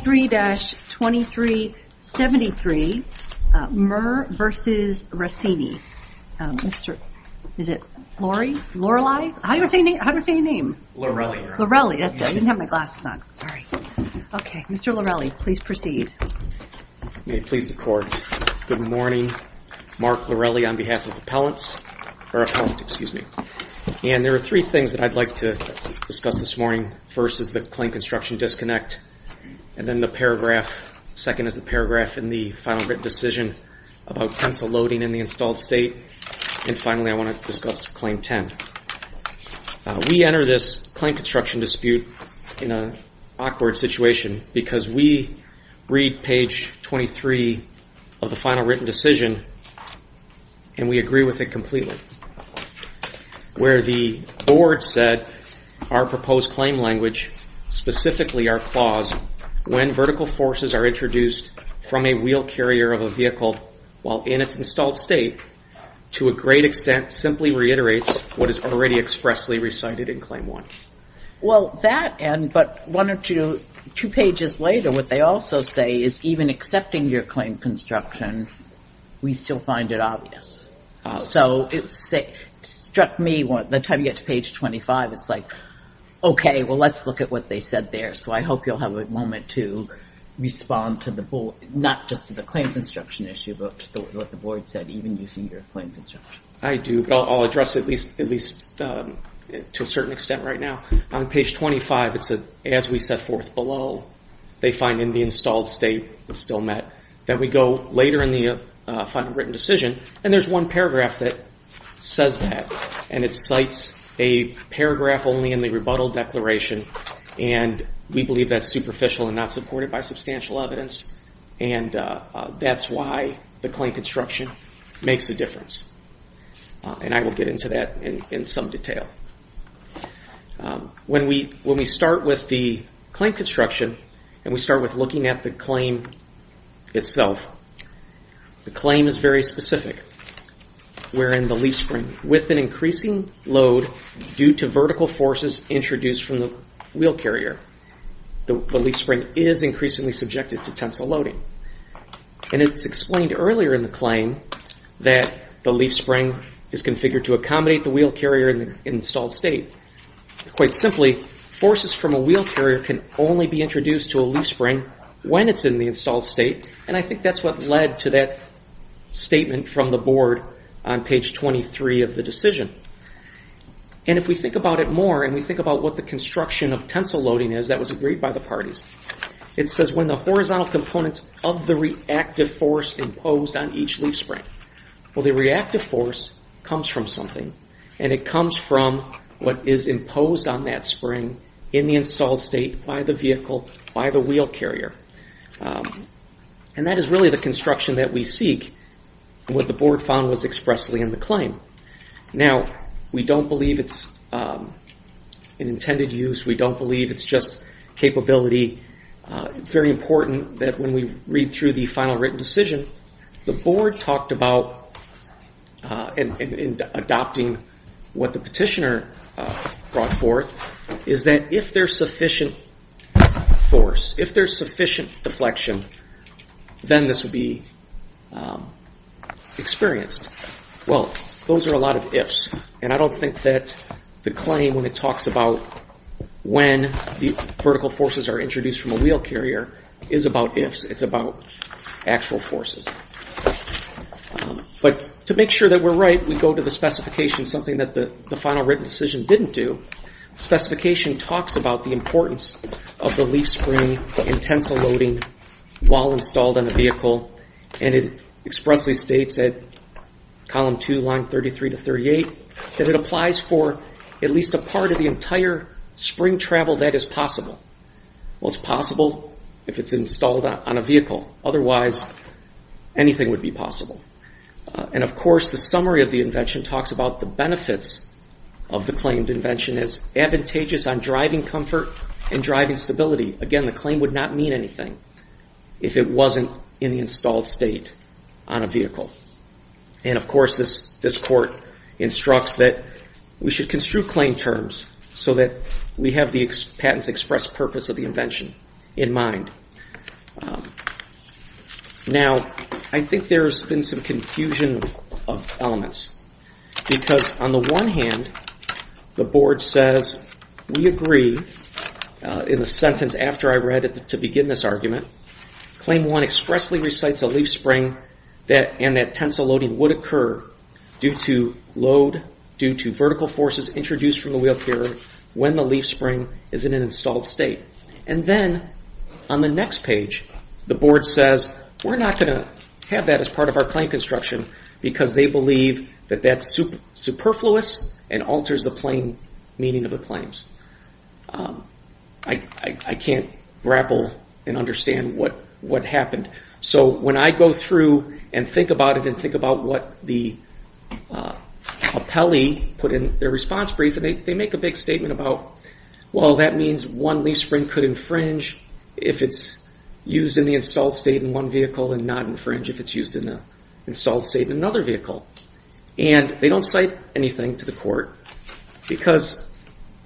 23-2373, Mehr v. Rassini, Mr. Lorelli, please proceed. May it please the Court, good morning, Mark Lorelli on behalf of the appellants, and there are three things that I'd like to discuss this morning. First is the claim construction disconnect, and then the paragraph, second is the paragraph in the final written decision about tensile loading in the installed state, and finally I want to discuss Claim 10. We enter this claim construction dispute in an awkward situation because we read page 23 of the final written decision and we agree with it completely. Where the board said our proposed claim language, specifically our clause, when vertical forces are introduced from a wheel carrier of a vehicle while in its installed state, to a great extent simply reiterates what is already expressly recited in Claim 1. Well that and, but one or two pages later what they also say is even accepting your claim construction, we still find it obvious. So it struck me, the time you get to page 25, it's like, okay, well let's look at what they said there. So I hope you'll have a moment to respond to the board, not just to the claim construction issue, but what the board said, even using your claim construction. I do, but I'll address it at least to a certain extent right now. On page 25, it's as we set forth below, they find in the installed state, it's still met, that we go later in the final written decision, and there's one paragraph that says that, and it cites a paragraph only in the rebuttal declaration, and we believe that's superficial and not supported by substantial evidence, and that's why the claim construction makes a difference. And I will get into that in some detail. When we start with the claim construction, and we start with looking at the claim itself, the claim is very specific, wherein the leaf spring, with an increasing load due to vertical forces introduced from the wheel carrier, the leaf spring is increasingly subjected to tensile loading. And it's explained earlier in the claim that the leaf spring is configured to accommodate the wheel carrier in the installed state. Quite simply, forces from a wheel carrier can only be introduced to a leaf spring when it's in the installed state, and I think that's what led to that statement from the board on page 23 of the decision. And if we think about it more, and we think about what the construction of tensile loading is, that was agreed by the parties, it says when the horizontal components of the reactive force imposed on each leaf spring. Well, the reactive force comes from something, and it comes from what is imposed on that spring in the installed state by the vehicle, by the wheel carrier. And that is really the construction that we seek, and what the board found was expressly in the claim. Now, we don't believe it's an intended use, we don't believe it's just capability. It's very important that when we read through the final written decision, the board talked about, in adopting what the petitioner brought forth, is that if there's sufficient force, if there's sufficient deflection, then this would be experienced. Well, those are a lot of ifs, and I don't think that the claim when it talks about when the vertical forces are introduced from a wheel carrier is about ifs, it's about actual forces. But to make sure that we're right, we go to the specification, something that the final written decision didn't do. The specification talks about the importance of the leaf spring and tensile loading while installed on the vehicle, and it expressly states at column 2, line 33 to 38, that it applies for at least a part of the entire spring travel that is possible. Well, it's possible if it's installed on a vehicle, otherwise anything would be possible. And of course, the summary of the invention talks about the benefits of the claimed invention as advantageous on driving comfort and driving stability. Again, the claim would not mean anything if it wasn't in the installed state on a vehicle. And of course, this court instructs that we should construe claim terms so that we have the patent's express purpose of the invention in mind. Now, I think there's been some confusion of elements, because on the one hand, the board says, we agree in the sentence after I read it to begin this argument, claim 1 expressly states that leaf spring and that tensile loading would occur due to load, due to vertical forces introduced from the wheel carrier when the leaf spring is in an installed state. And then, on the next page, the board says, we're not going to have that as part of our claim construction, because they believe that that's superfluous and alters the plain meaning of the claims. I can't grapple and understand what happened. So when I go through and think about it and think about what the appellee put in their response brief, they make a big statement about, well, that means one leaf spring could infringe if it's used in the installed state in one vehicle and not infringe if it's used in the installed state in another vehicle. And they don't cite anything to the court, because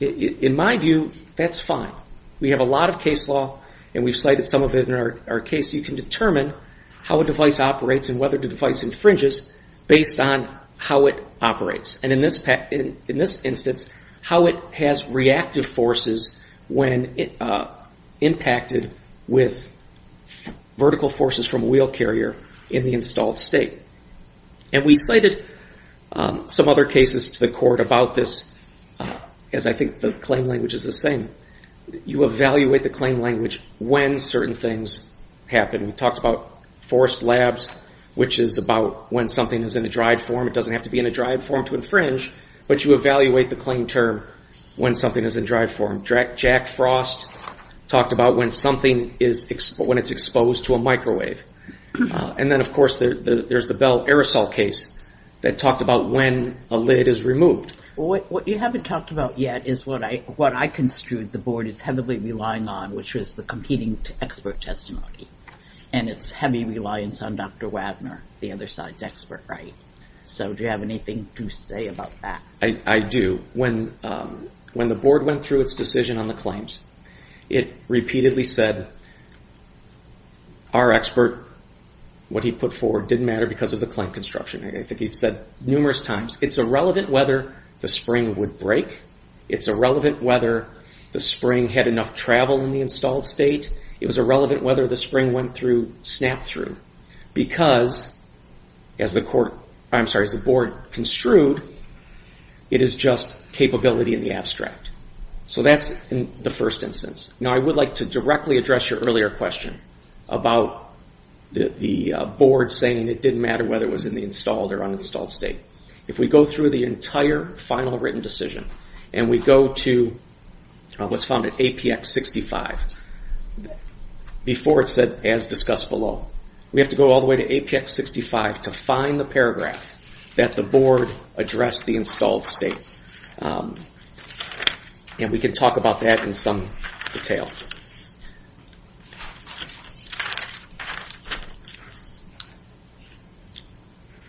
in my view, that's fine. We have a lot of case law, and we've cited some of it in our case. You can determine how a device operates and whether the device infringes based on how it operates, and in this instance, how it has reactive forces when impacted with vertical forces from a wheel carrier in the installed state. And we cited some other cases to the court about this, as I think the claim language is the same. You evaluate the claim language when certain things happen. We talked about forced labs, which is about when something is in a dried form. It doesn't have to be in a dried form to infringe, but you evaluate the claim term when something is in dried form. Jack Frost talked about when something is exposed to a microwave. And then, of course, there's the Bell aerosol case that talked about when a lid is removed. What you haven't talked about yet is what I construed the Board is heavily relying on, which is the competing expert testimony. And it's heavy reliance on Dr. Wagner, the other side's expert, right? So do you have anything to say about that? I do. When the Board went through its decision on the claims, it repeatedly said, our expert, what he put forward, didn't matter because of the claim construction. I think he said numerous times. It's irrelevant whether the spring would break. It's irrelevant whether the spring had enough travel in the installed state. It was irrelevant whether the spring went through, snapped through, because as the Board construed, it is just capability in the abstract. So that's the first instance. Now, I would like to directly address your earlier question about the Board saying it didn't matter whether it was in the installed or uninstalled state. If we go through the entire final written decision, and we go to what's found at APX 65, before it said, as discussed below, we have to go all the way to APX 65 to find the paragraph that the Board addressed the installed state, and we can talk about that in some detail.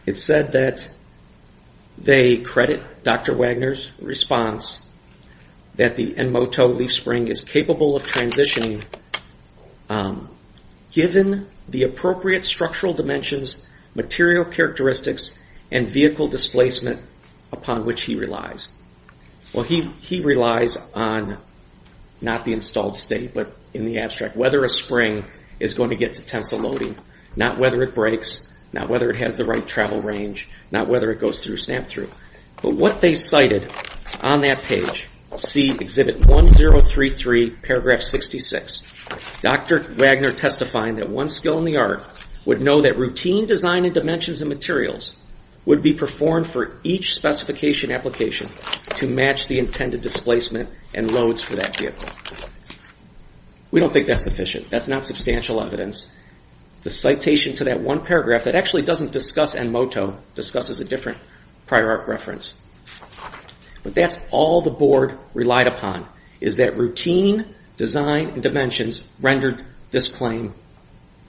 It said that they credit Dr. Wagner's response that the Enmoto leaf spring is capable of transitioning given the appropriate structural dimensions, material characteristics, and vehicle displacement upon which he relies. Well, he relies on not the installed state, but in the abstract, whether a spring is going to get to tensile loading, not whether it breaks, not whether it has the right travel range, not whether it goes through, snapped through. But what they cited on that page, see Exhibit 1033, Paragraph 66, Dr. Wagner testifying that one skill in the art would know that routine design in dimensions and materials would be performed for each specification application to match the intended displacement and loads for that vehicle. We don't think that's sufficient. That's not substantial evidence. The citation to that one paragraph that actually doesn't discuss Enmoto discusses a different prior art reference. But that's all the Board relied upon, is that routine design in dimensions rendered this claim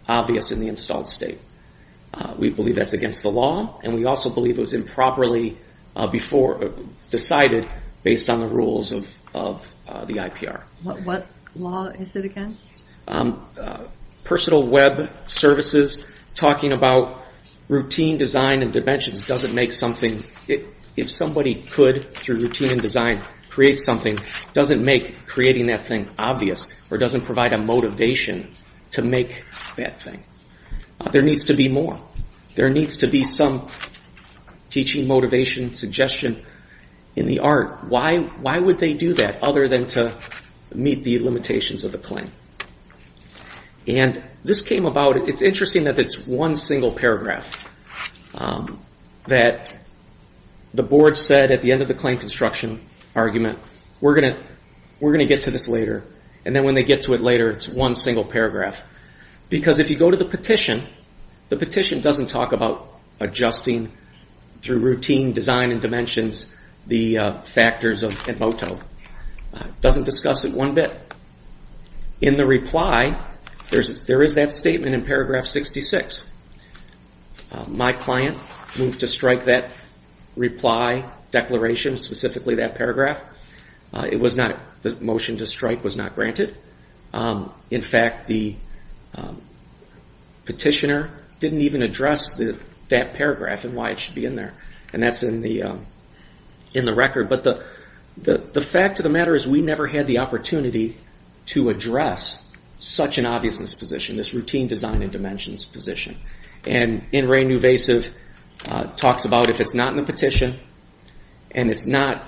obvious in the installed state. We believe that's against the law, and we also believe it was improperly decided based on the rules of the IPR. What law is it against? Personal web services talking about routine design in dimensions doesn't make something – if somebody could, through routine and design, create something, doesn't make creating that thing obvious, or doesn't provide a motivation to make that thing. There needs to be more. There needs to be some teaching, motivation, suggestion in the art. Why would they do that other than to meet the limitations of the claim? This came about – it's interesting that it's one single paragraph that the Board said at the end of the claim construction argument, we're going to get to this later, and then when they get to it later, it's one single paragraph. Because if you go to the petition, the petition doesn't talk about adjusting through routine design in dimensions the factors of MOTO, it doesn't discuss it one bit. In the reply, there is that statement in paragraph 66. My client moved to strike that reply declaration, specifically that paragraph. It was not – the motion to strike was not granted. In fact, the petitioner didn't even address that paragraph and why it should be in there. And that's in the record. But the fact of the matter is we never had the opportunity to address such an obviousness position, this routine design in dimensions position. And in Ray Nuvasiv talks about if it's not in the petition, and it's not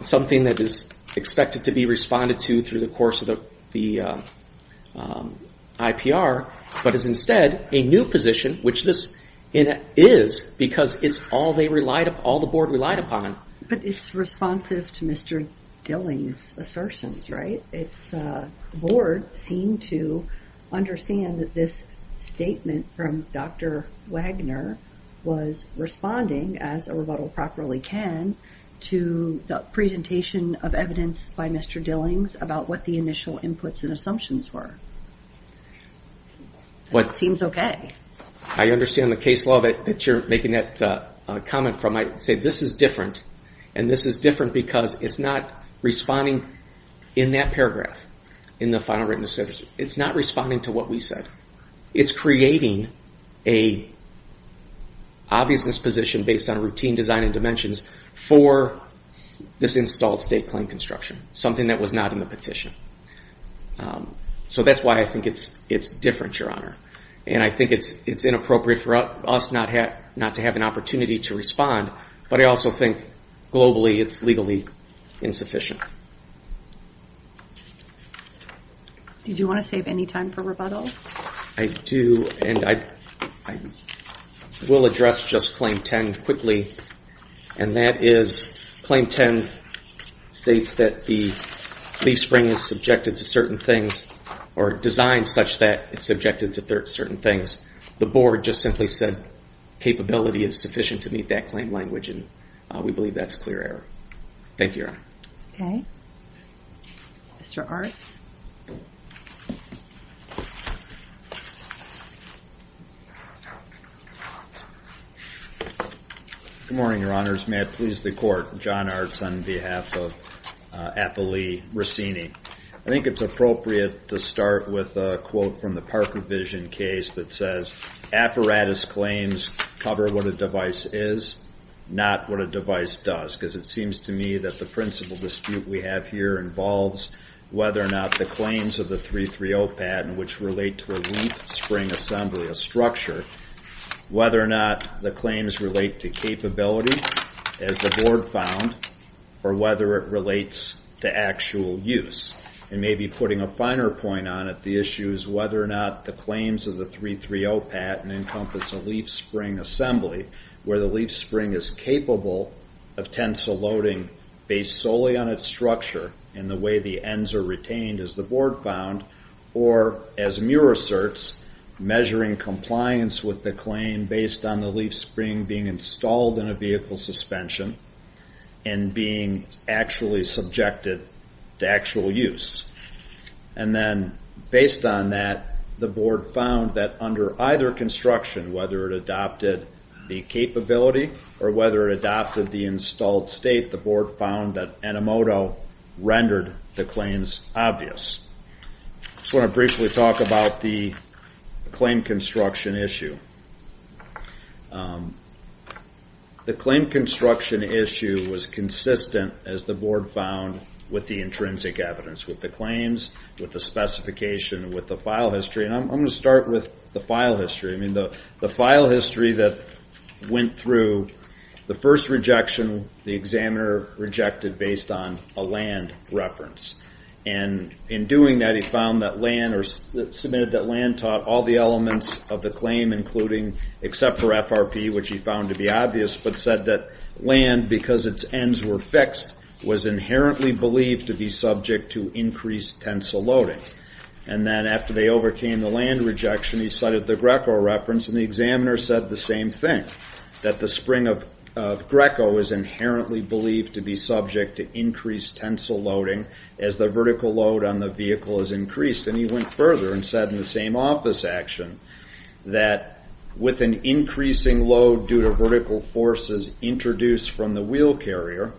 something that is expected to be responded to through the course of the IPR, but is instead a new position, which this is because it's all the Board relied upon. But it's responsive to Mr. Dilling's assertions, right? Board seemed to understand that this statement from Dr. Wagner was responding, as a rebuttal properly can, to the presentation of evidence by Mr. Dillings about what the initial inputs and assumptions were. It seems okay. I understand the case law that you're making that comment from. I say this is different, and this is different because it's not responding in that paragraph in the final written assessment. It's not responding to what we said. It's creating a obviousness position based on routine design in dimensions for this installed state claim construction, something that was not in the petition. So that's why I think it's different, Your Honor. And I think it's inappropriate for us not to have an opportunity to respond, but I also think globally it's legally insufficient. Did you want to save any time for rebuttal? I do, and I will address just Claim 10 quickly, and that is Claim 10 states that the leaf spring is subjected to certain things or designed such that it's subjected to certain things. The Board just simply said capability is sufficient to meet that claim language, and we believe that's clear error. Thank you, Your Honor. Okay. Mr. Artz. Good morning, Your Honors. May it please the Court, John Artz on behalf of Appalee Racini. I think it's appropriate to start with a quote from the Parker Vision case that says, Apparatus claims cover what a device is, not what a device does. Because it seems to me that the principle dispute we have here involves whether or not the claims of the 330 pad, which relate to a leaf spring assembly, a structure, whether or not the claims relate to capability, as the Board found, or whether it relates to actual use. And maybe putting a finer point on it, the issue is whether or not the claims of the 330 pad encompass a leaf spring assembly, where the leaf spring is capable of tensile loading based solely on its structure and the way the ends are retained, as the Board found, or, as Muir asserts, measuring compliance with the claim based on the leaf spring being installed in a vehicle suspension and being actually subjected to actual use. And then, based on that, the Board found that under either construction, whether it adopted the capability or whether it adopted the installed state, the Board found that Enemoto rendered the claims obvious. I just want to briefly talk about the claim construction issue. The claim construction issue was consistent, as the Board found, with the intrinsic evidence with the claims, with the specification, with the file history, and I'm going to start with the file history. The file history that went through, the first rejection, the examiner rejected based on a land reference, and in doing that, he found that land, or submitted that land taught all the elements of the claim, including, except for FRP, which he found to be obvious, but that land, because its ends were fixed, was inherently believed to be subject to increased tensile loading. And then, after they overcame the land rejection, he cited the Greco reference, and the examiner said the same thing, that the spring of Greco is inherently believed to be subject to increased tensile loading as the vertical load on the vehicle is increased, and he went further and said in the same office action, that with an increasing load due to vertical forces introduced from the wheel carrier,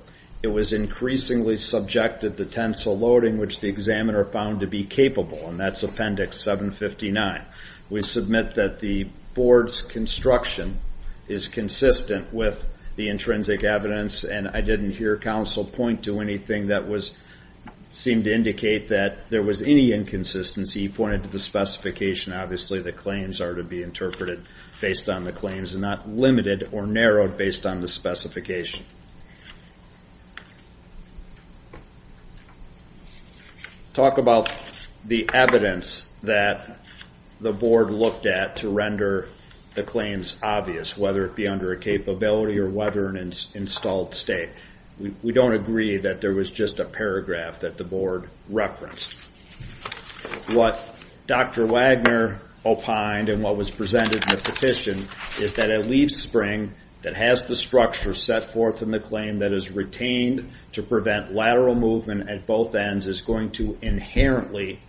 it was increasingly subjected to tensile loading, which the examiner found to be capable, and that's Appendix 759. We submit that the Board's construction is consistent with the intrinsic evidence, and I didn't hear counsel point to anything that seemed to indicate that there was any inconsistency. He pointed to the specification, obviously the claims are to be interpreted based on the claims, and not limited or narrowed based on the specification. Talk about the evidence that the Board looked at to render the claims obvious, whether it be under a capability or whether an installed state. We don't agree that there was just a paragraph that the Board referenced. What Dr. Wagner opined, and what was presented in the petition, is that a leaf spring that has the structure set forth in the claim that is retained to prevent lateral movement at both ends is going to inherently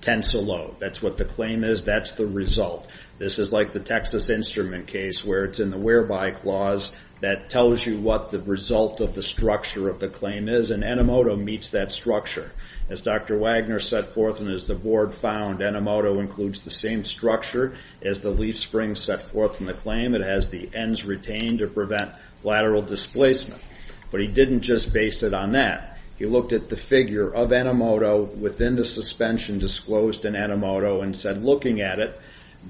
tensile load. That's what the claim is, that's the result. This is like the Texas Instrument case, where it's in the whereby clause that tells you what the result of the structure of the claim is, and Enomoto meets that structure. As Dr. Wagner set forth, and as the Board found, Enomoto includes the same structure as the leaf spring set forth in the claim, it has the ends retained to prevent lateral displacement. But he didn't just base it on that, he looked at the figure of Enomoto within the suspension disclosed in Enomoto and said, looking at it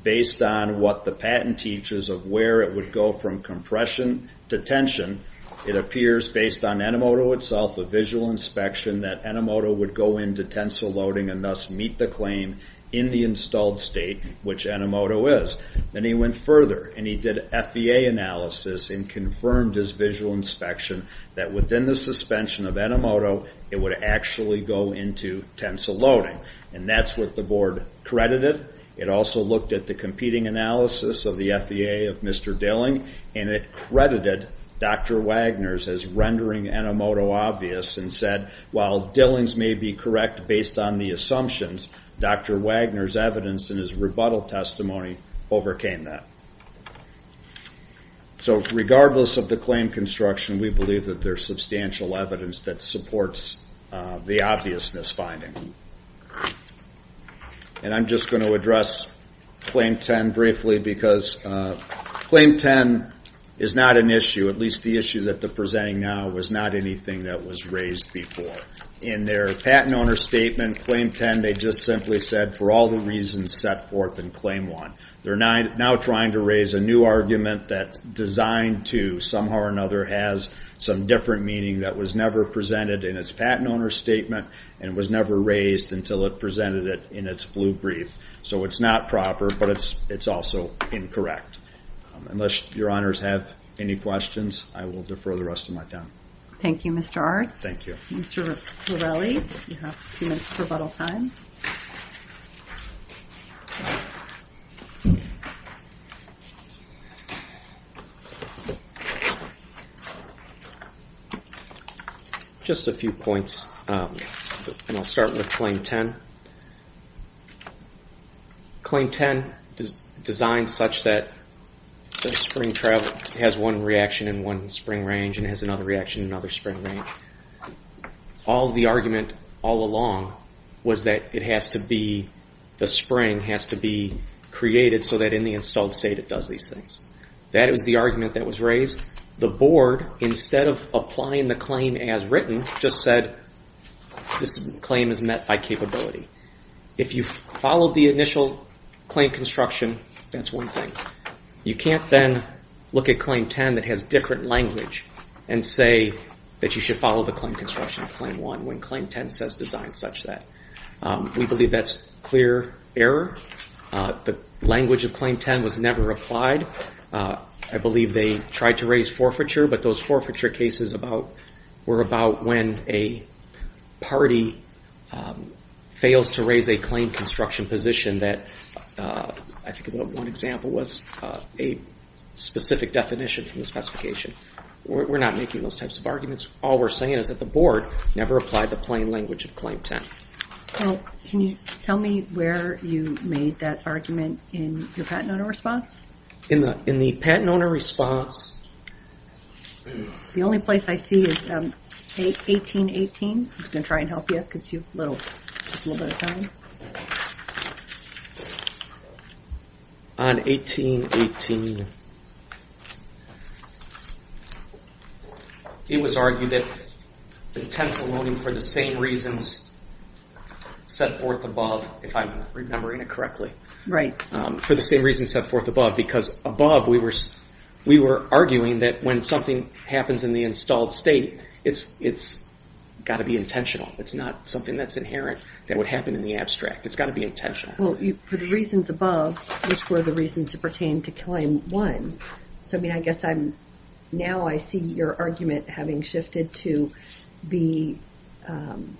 based on what the patent teaches of where it would go from compression to tension, it appears based on Enomoto itself, a visual inspection, that Enomoto would go into tensile loading and thus meet the claim in the installed state which Enomoto is. Then he went further, and he did an FBA analysis and confirmed his visual inspection that within the suspension of Enomoto, it would actually go into tensile loading. That's what the Board credited. It also looked at the competing analysis of the FBA of Mr. Dilling, and it credited Dr. Wagner's as rendering Enomoto obvious and said, while Dilling's may be correct based on the assumptions, Dr. Wagner's evidence in his rebuttal testimony overcame that. So regardless of the claim construction, we believe that there's substantial evidence that supports the obviousness finding. I'm just going to address Claim 10 briefly because Claim 10 is not an issue, at least the issue that they're presenting now was not anything that was raised before. In their patent owner's statement, Claim 10, they just simply said, for all the reasons set forth in Claim 1. They're now trying to raise a new argument that's designed to, somehow or another, has some different meaning that was never presented in its patent owner's statement and was never raised until it presented it in its blue brief. So it's not proper, but it's also incorrect. Unless your honors have any questions, I will defer the rest of my time. Thank you, Mr. Artz. Thank you. Mr. Torelli, you have two minutes for rebuttal time. Thank you. Just a few points, and I'll start with Claim 10. Claim 10 is designed such that the spring travel has one reaction in one spring range and has another reaction in another spring range. All the argument all along was that it has to be, the spring has to be created so that in the installed state it does these things. That is the argument that was raised. The board, instead of applying the claim as written, just said this claim is met by capability. If you followed the initial claim construction, that's one thing. You can't then look at Claim 10 that has different language and say that you should follow the claim construction of Claim 1 when Claim 10 says designed such that. We believe that's clear error. The language of Claim 10 was never applied. I believe they tried to raise forfeiture, but those forfeiture cases were about when a party fails to raise a claim construction position that, I think one example was, was a specific definition from the specification. We're not making those types of arguments. All we're saying is that the board never applied the plain language of Claim 10. Well, can you tell me where you made that argument in your Patent Owner Response? In the Patent Owner Response. The only place I see is 1818. I'm going to try and help you because you have a little bit of time. On 1818, it was argued that intentional loaning for the same reasons set forth above, if I'm remembering it correctly, for the same reasons set forth above, because above we were arguing that when something happens in the installed state, it's got to be intentional. It's not something that's inherent that would happen in the abstract. It's got to be intentional. Well, for the reasons above, which were the reasons that pertain to Claim 1, so I mean I guess now I see your argument having shifted to be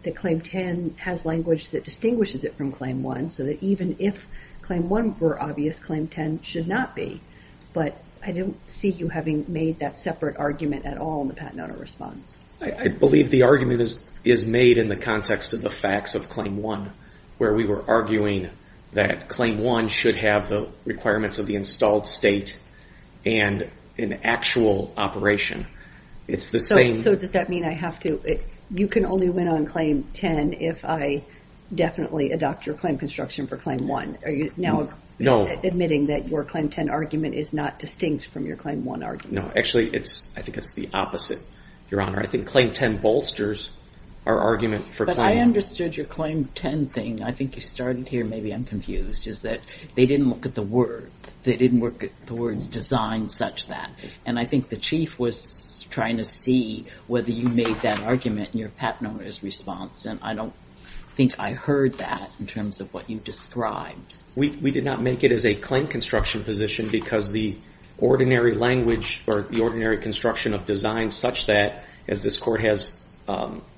that Claim 10 has language that distinguishes it from Claim 1, so that even if Claim 1 were obvious, Claim 10 should not be, but I don't see you having made that separate argument at all in the Patent Owner Response. I believe the argument is made in the context of the facts of Claim 1, where we were arguing that Claim 1 should have the requirements of the installed state and an actual operation. It's the same... So does that mean I have to... You can only win on Claim 10 if I definitely adopt your claim construction for Claim 1. Are you now admitting that your Claim 10 argument is not distinct from your Claim 1 argument? No, actually I think it's the opposite, Your Honor. I think Claim 10 bolsters our argument for Claim 1. But I understood your Claim 10 thing. I think you started here, maybe I'm confused, is that they didn't look at the words. They didn't look at the words design such that, and I think the Chief was trying to see whether you made that argument in your Patent Owner Response, and I don't think I heard that in terms of what you described. We did not make it as a claim construction position because the ordinary language or the ordinary construction of design such that, as this Court has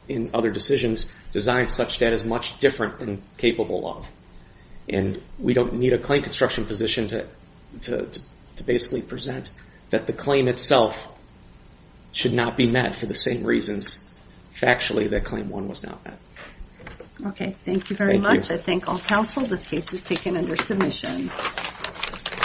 in other decisions, design such that is much different than capable of. And we don't need a claim construction position to basically present that the claim itself should not be met for the same reasons factually that Claim 1 was not met. Okay, thank you very much. I thank all counsel. This case is taken under submission.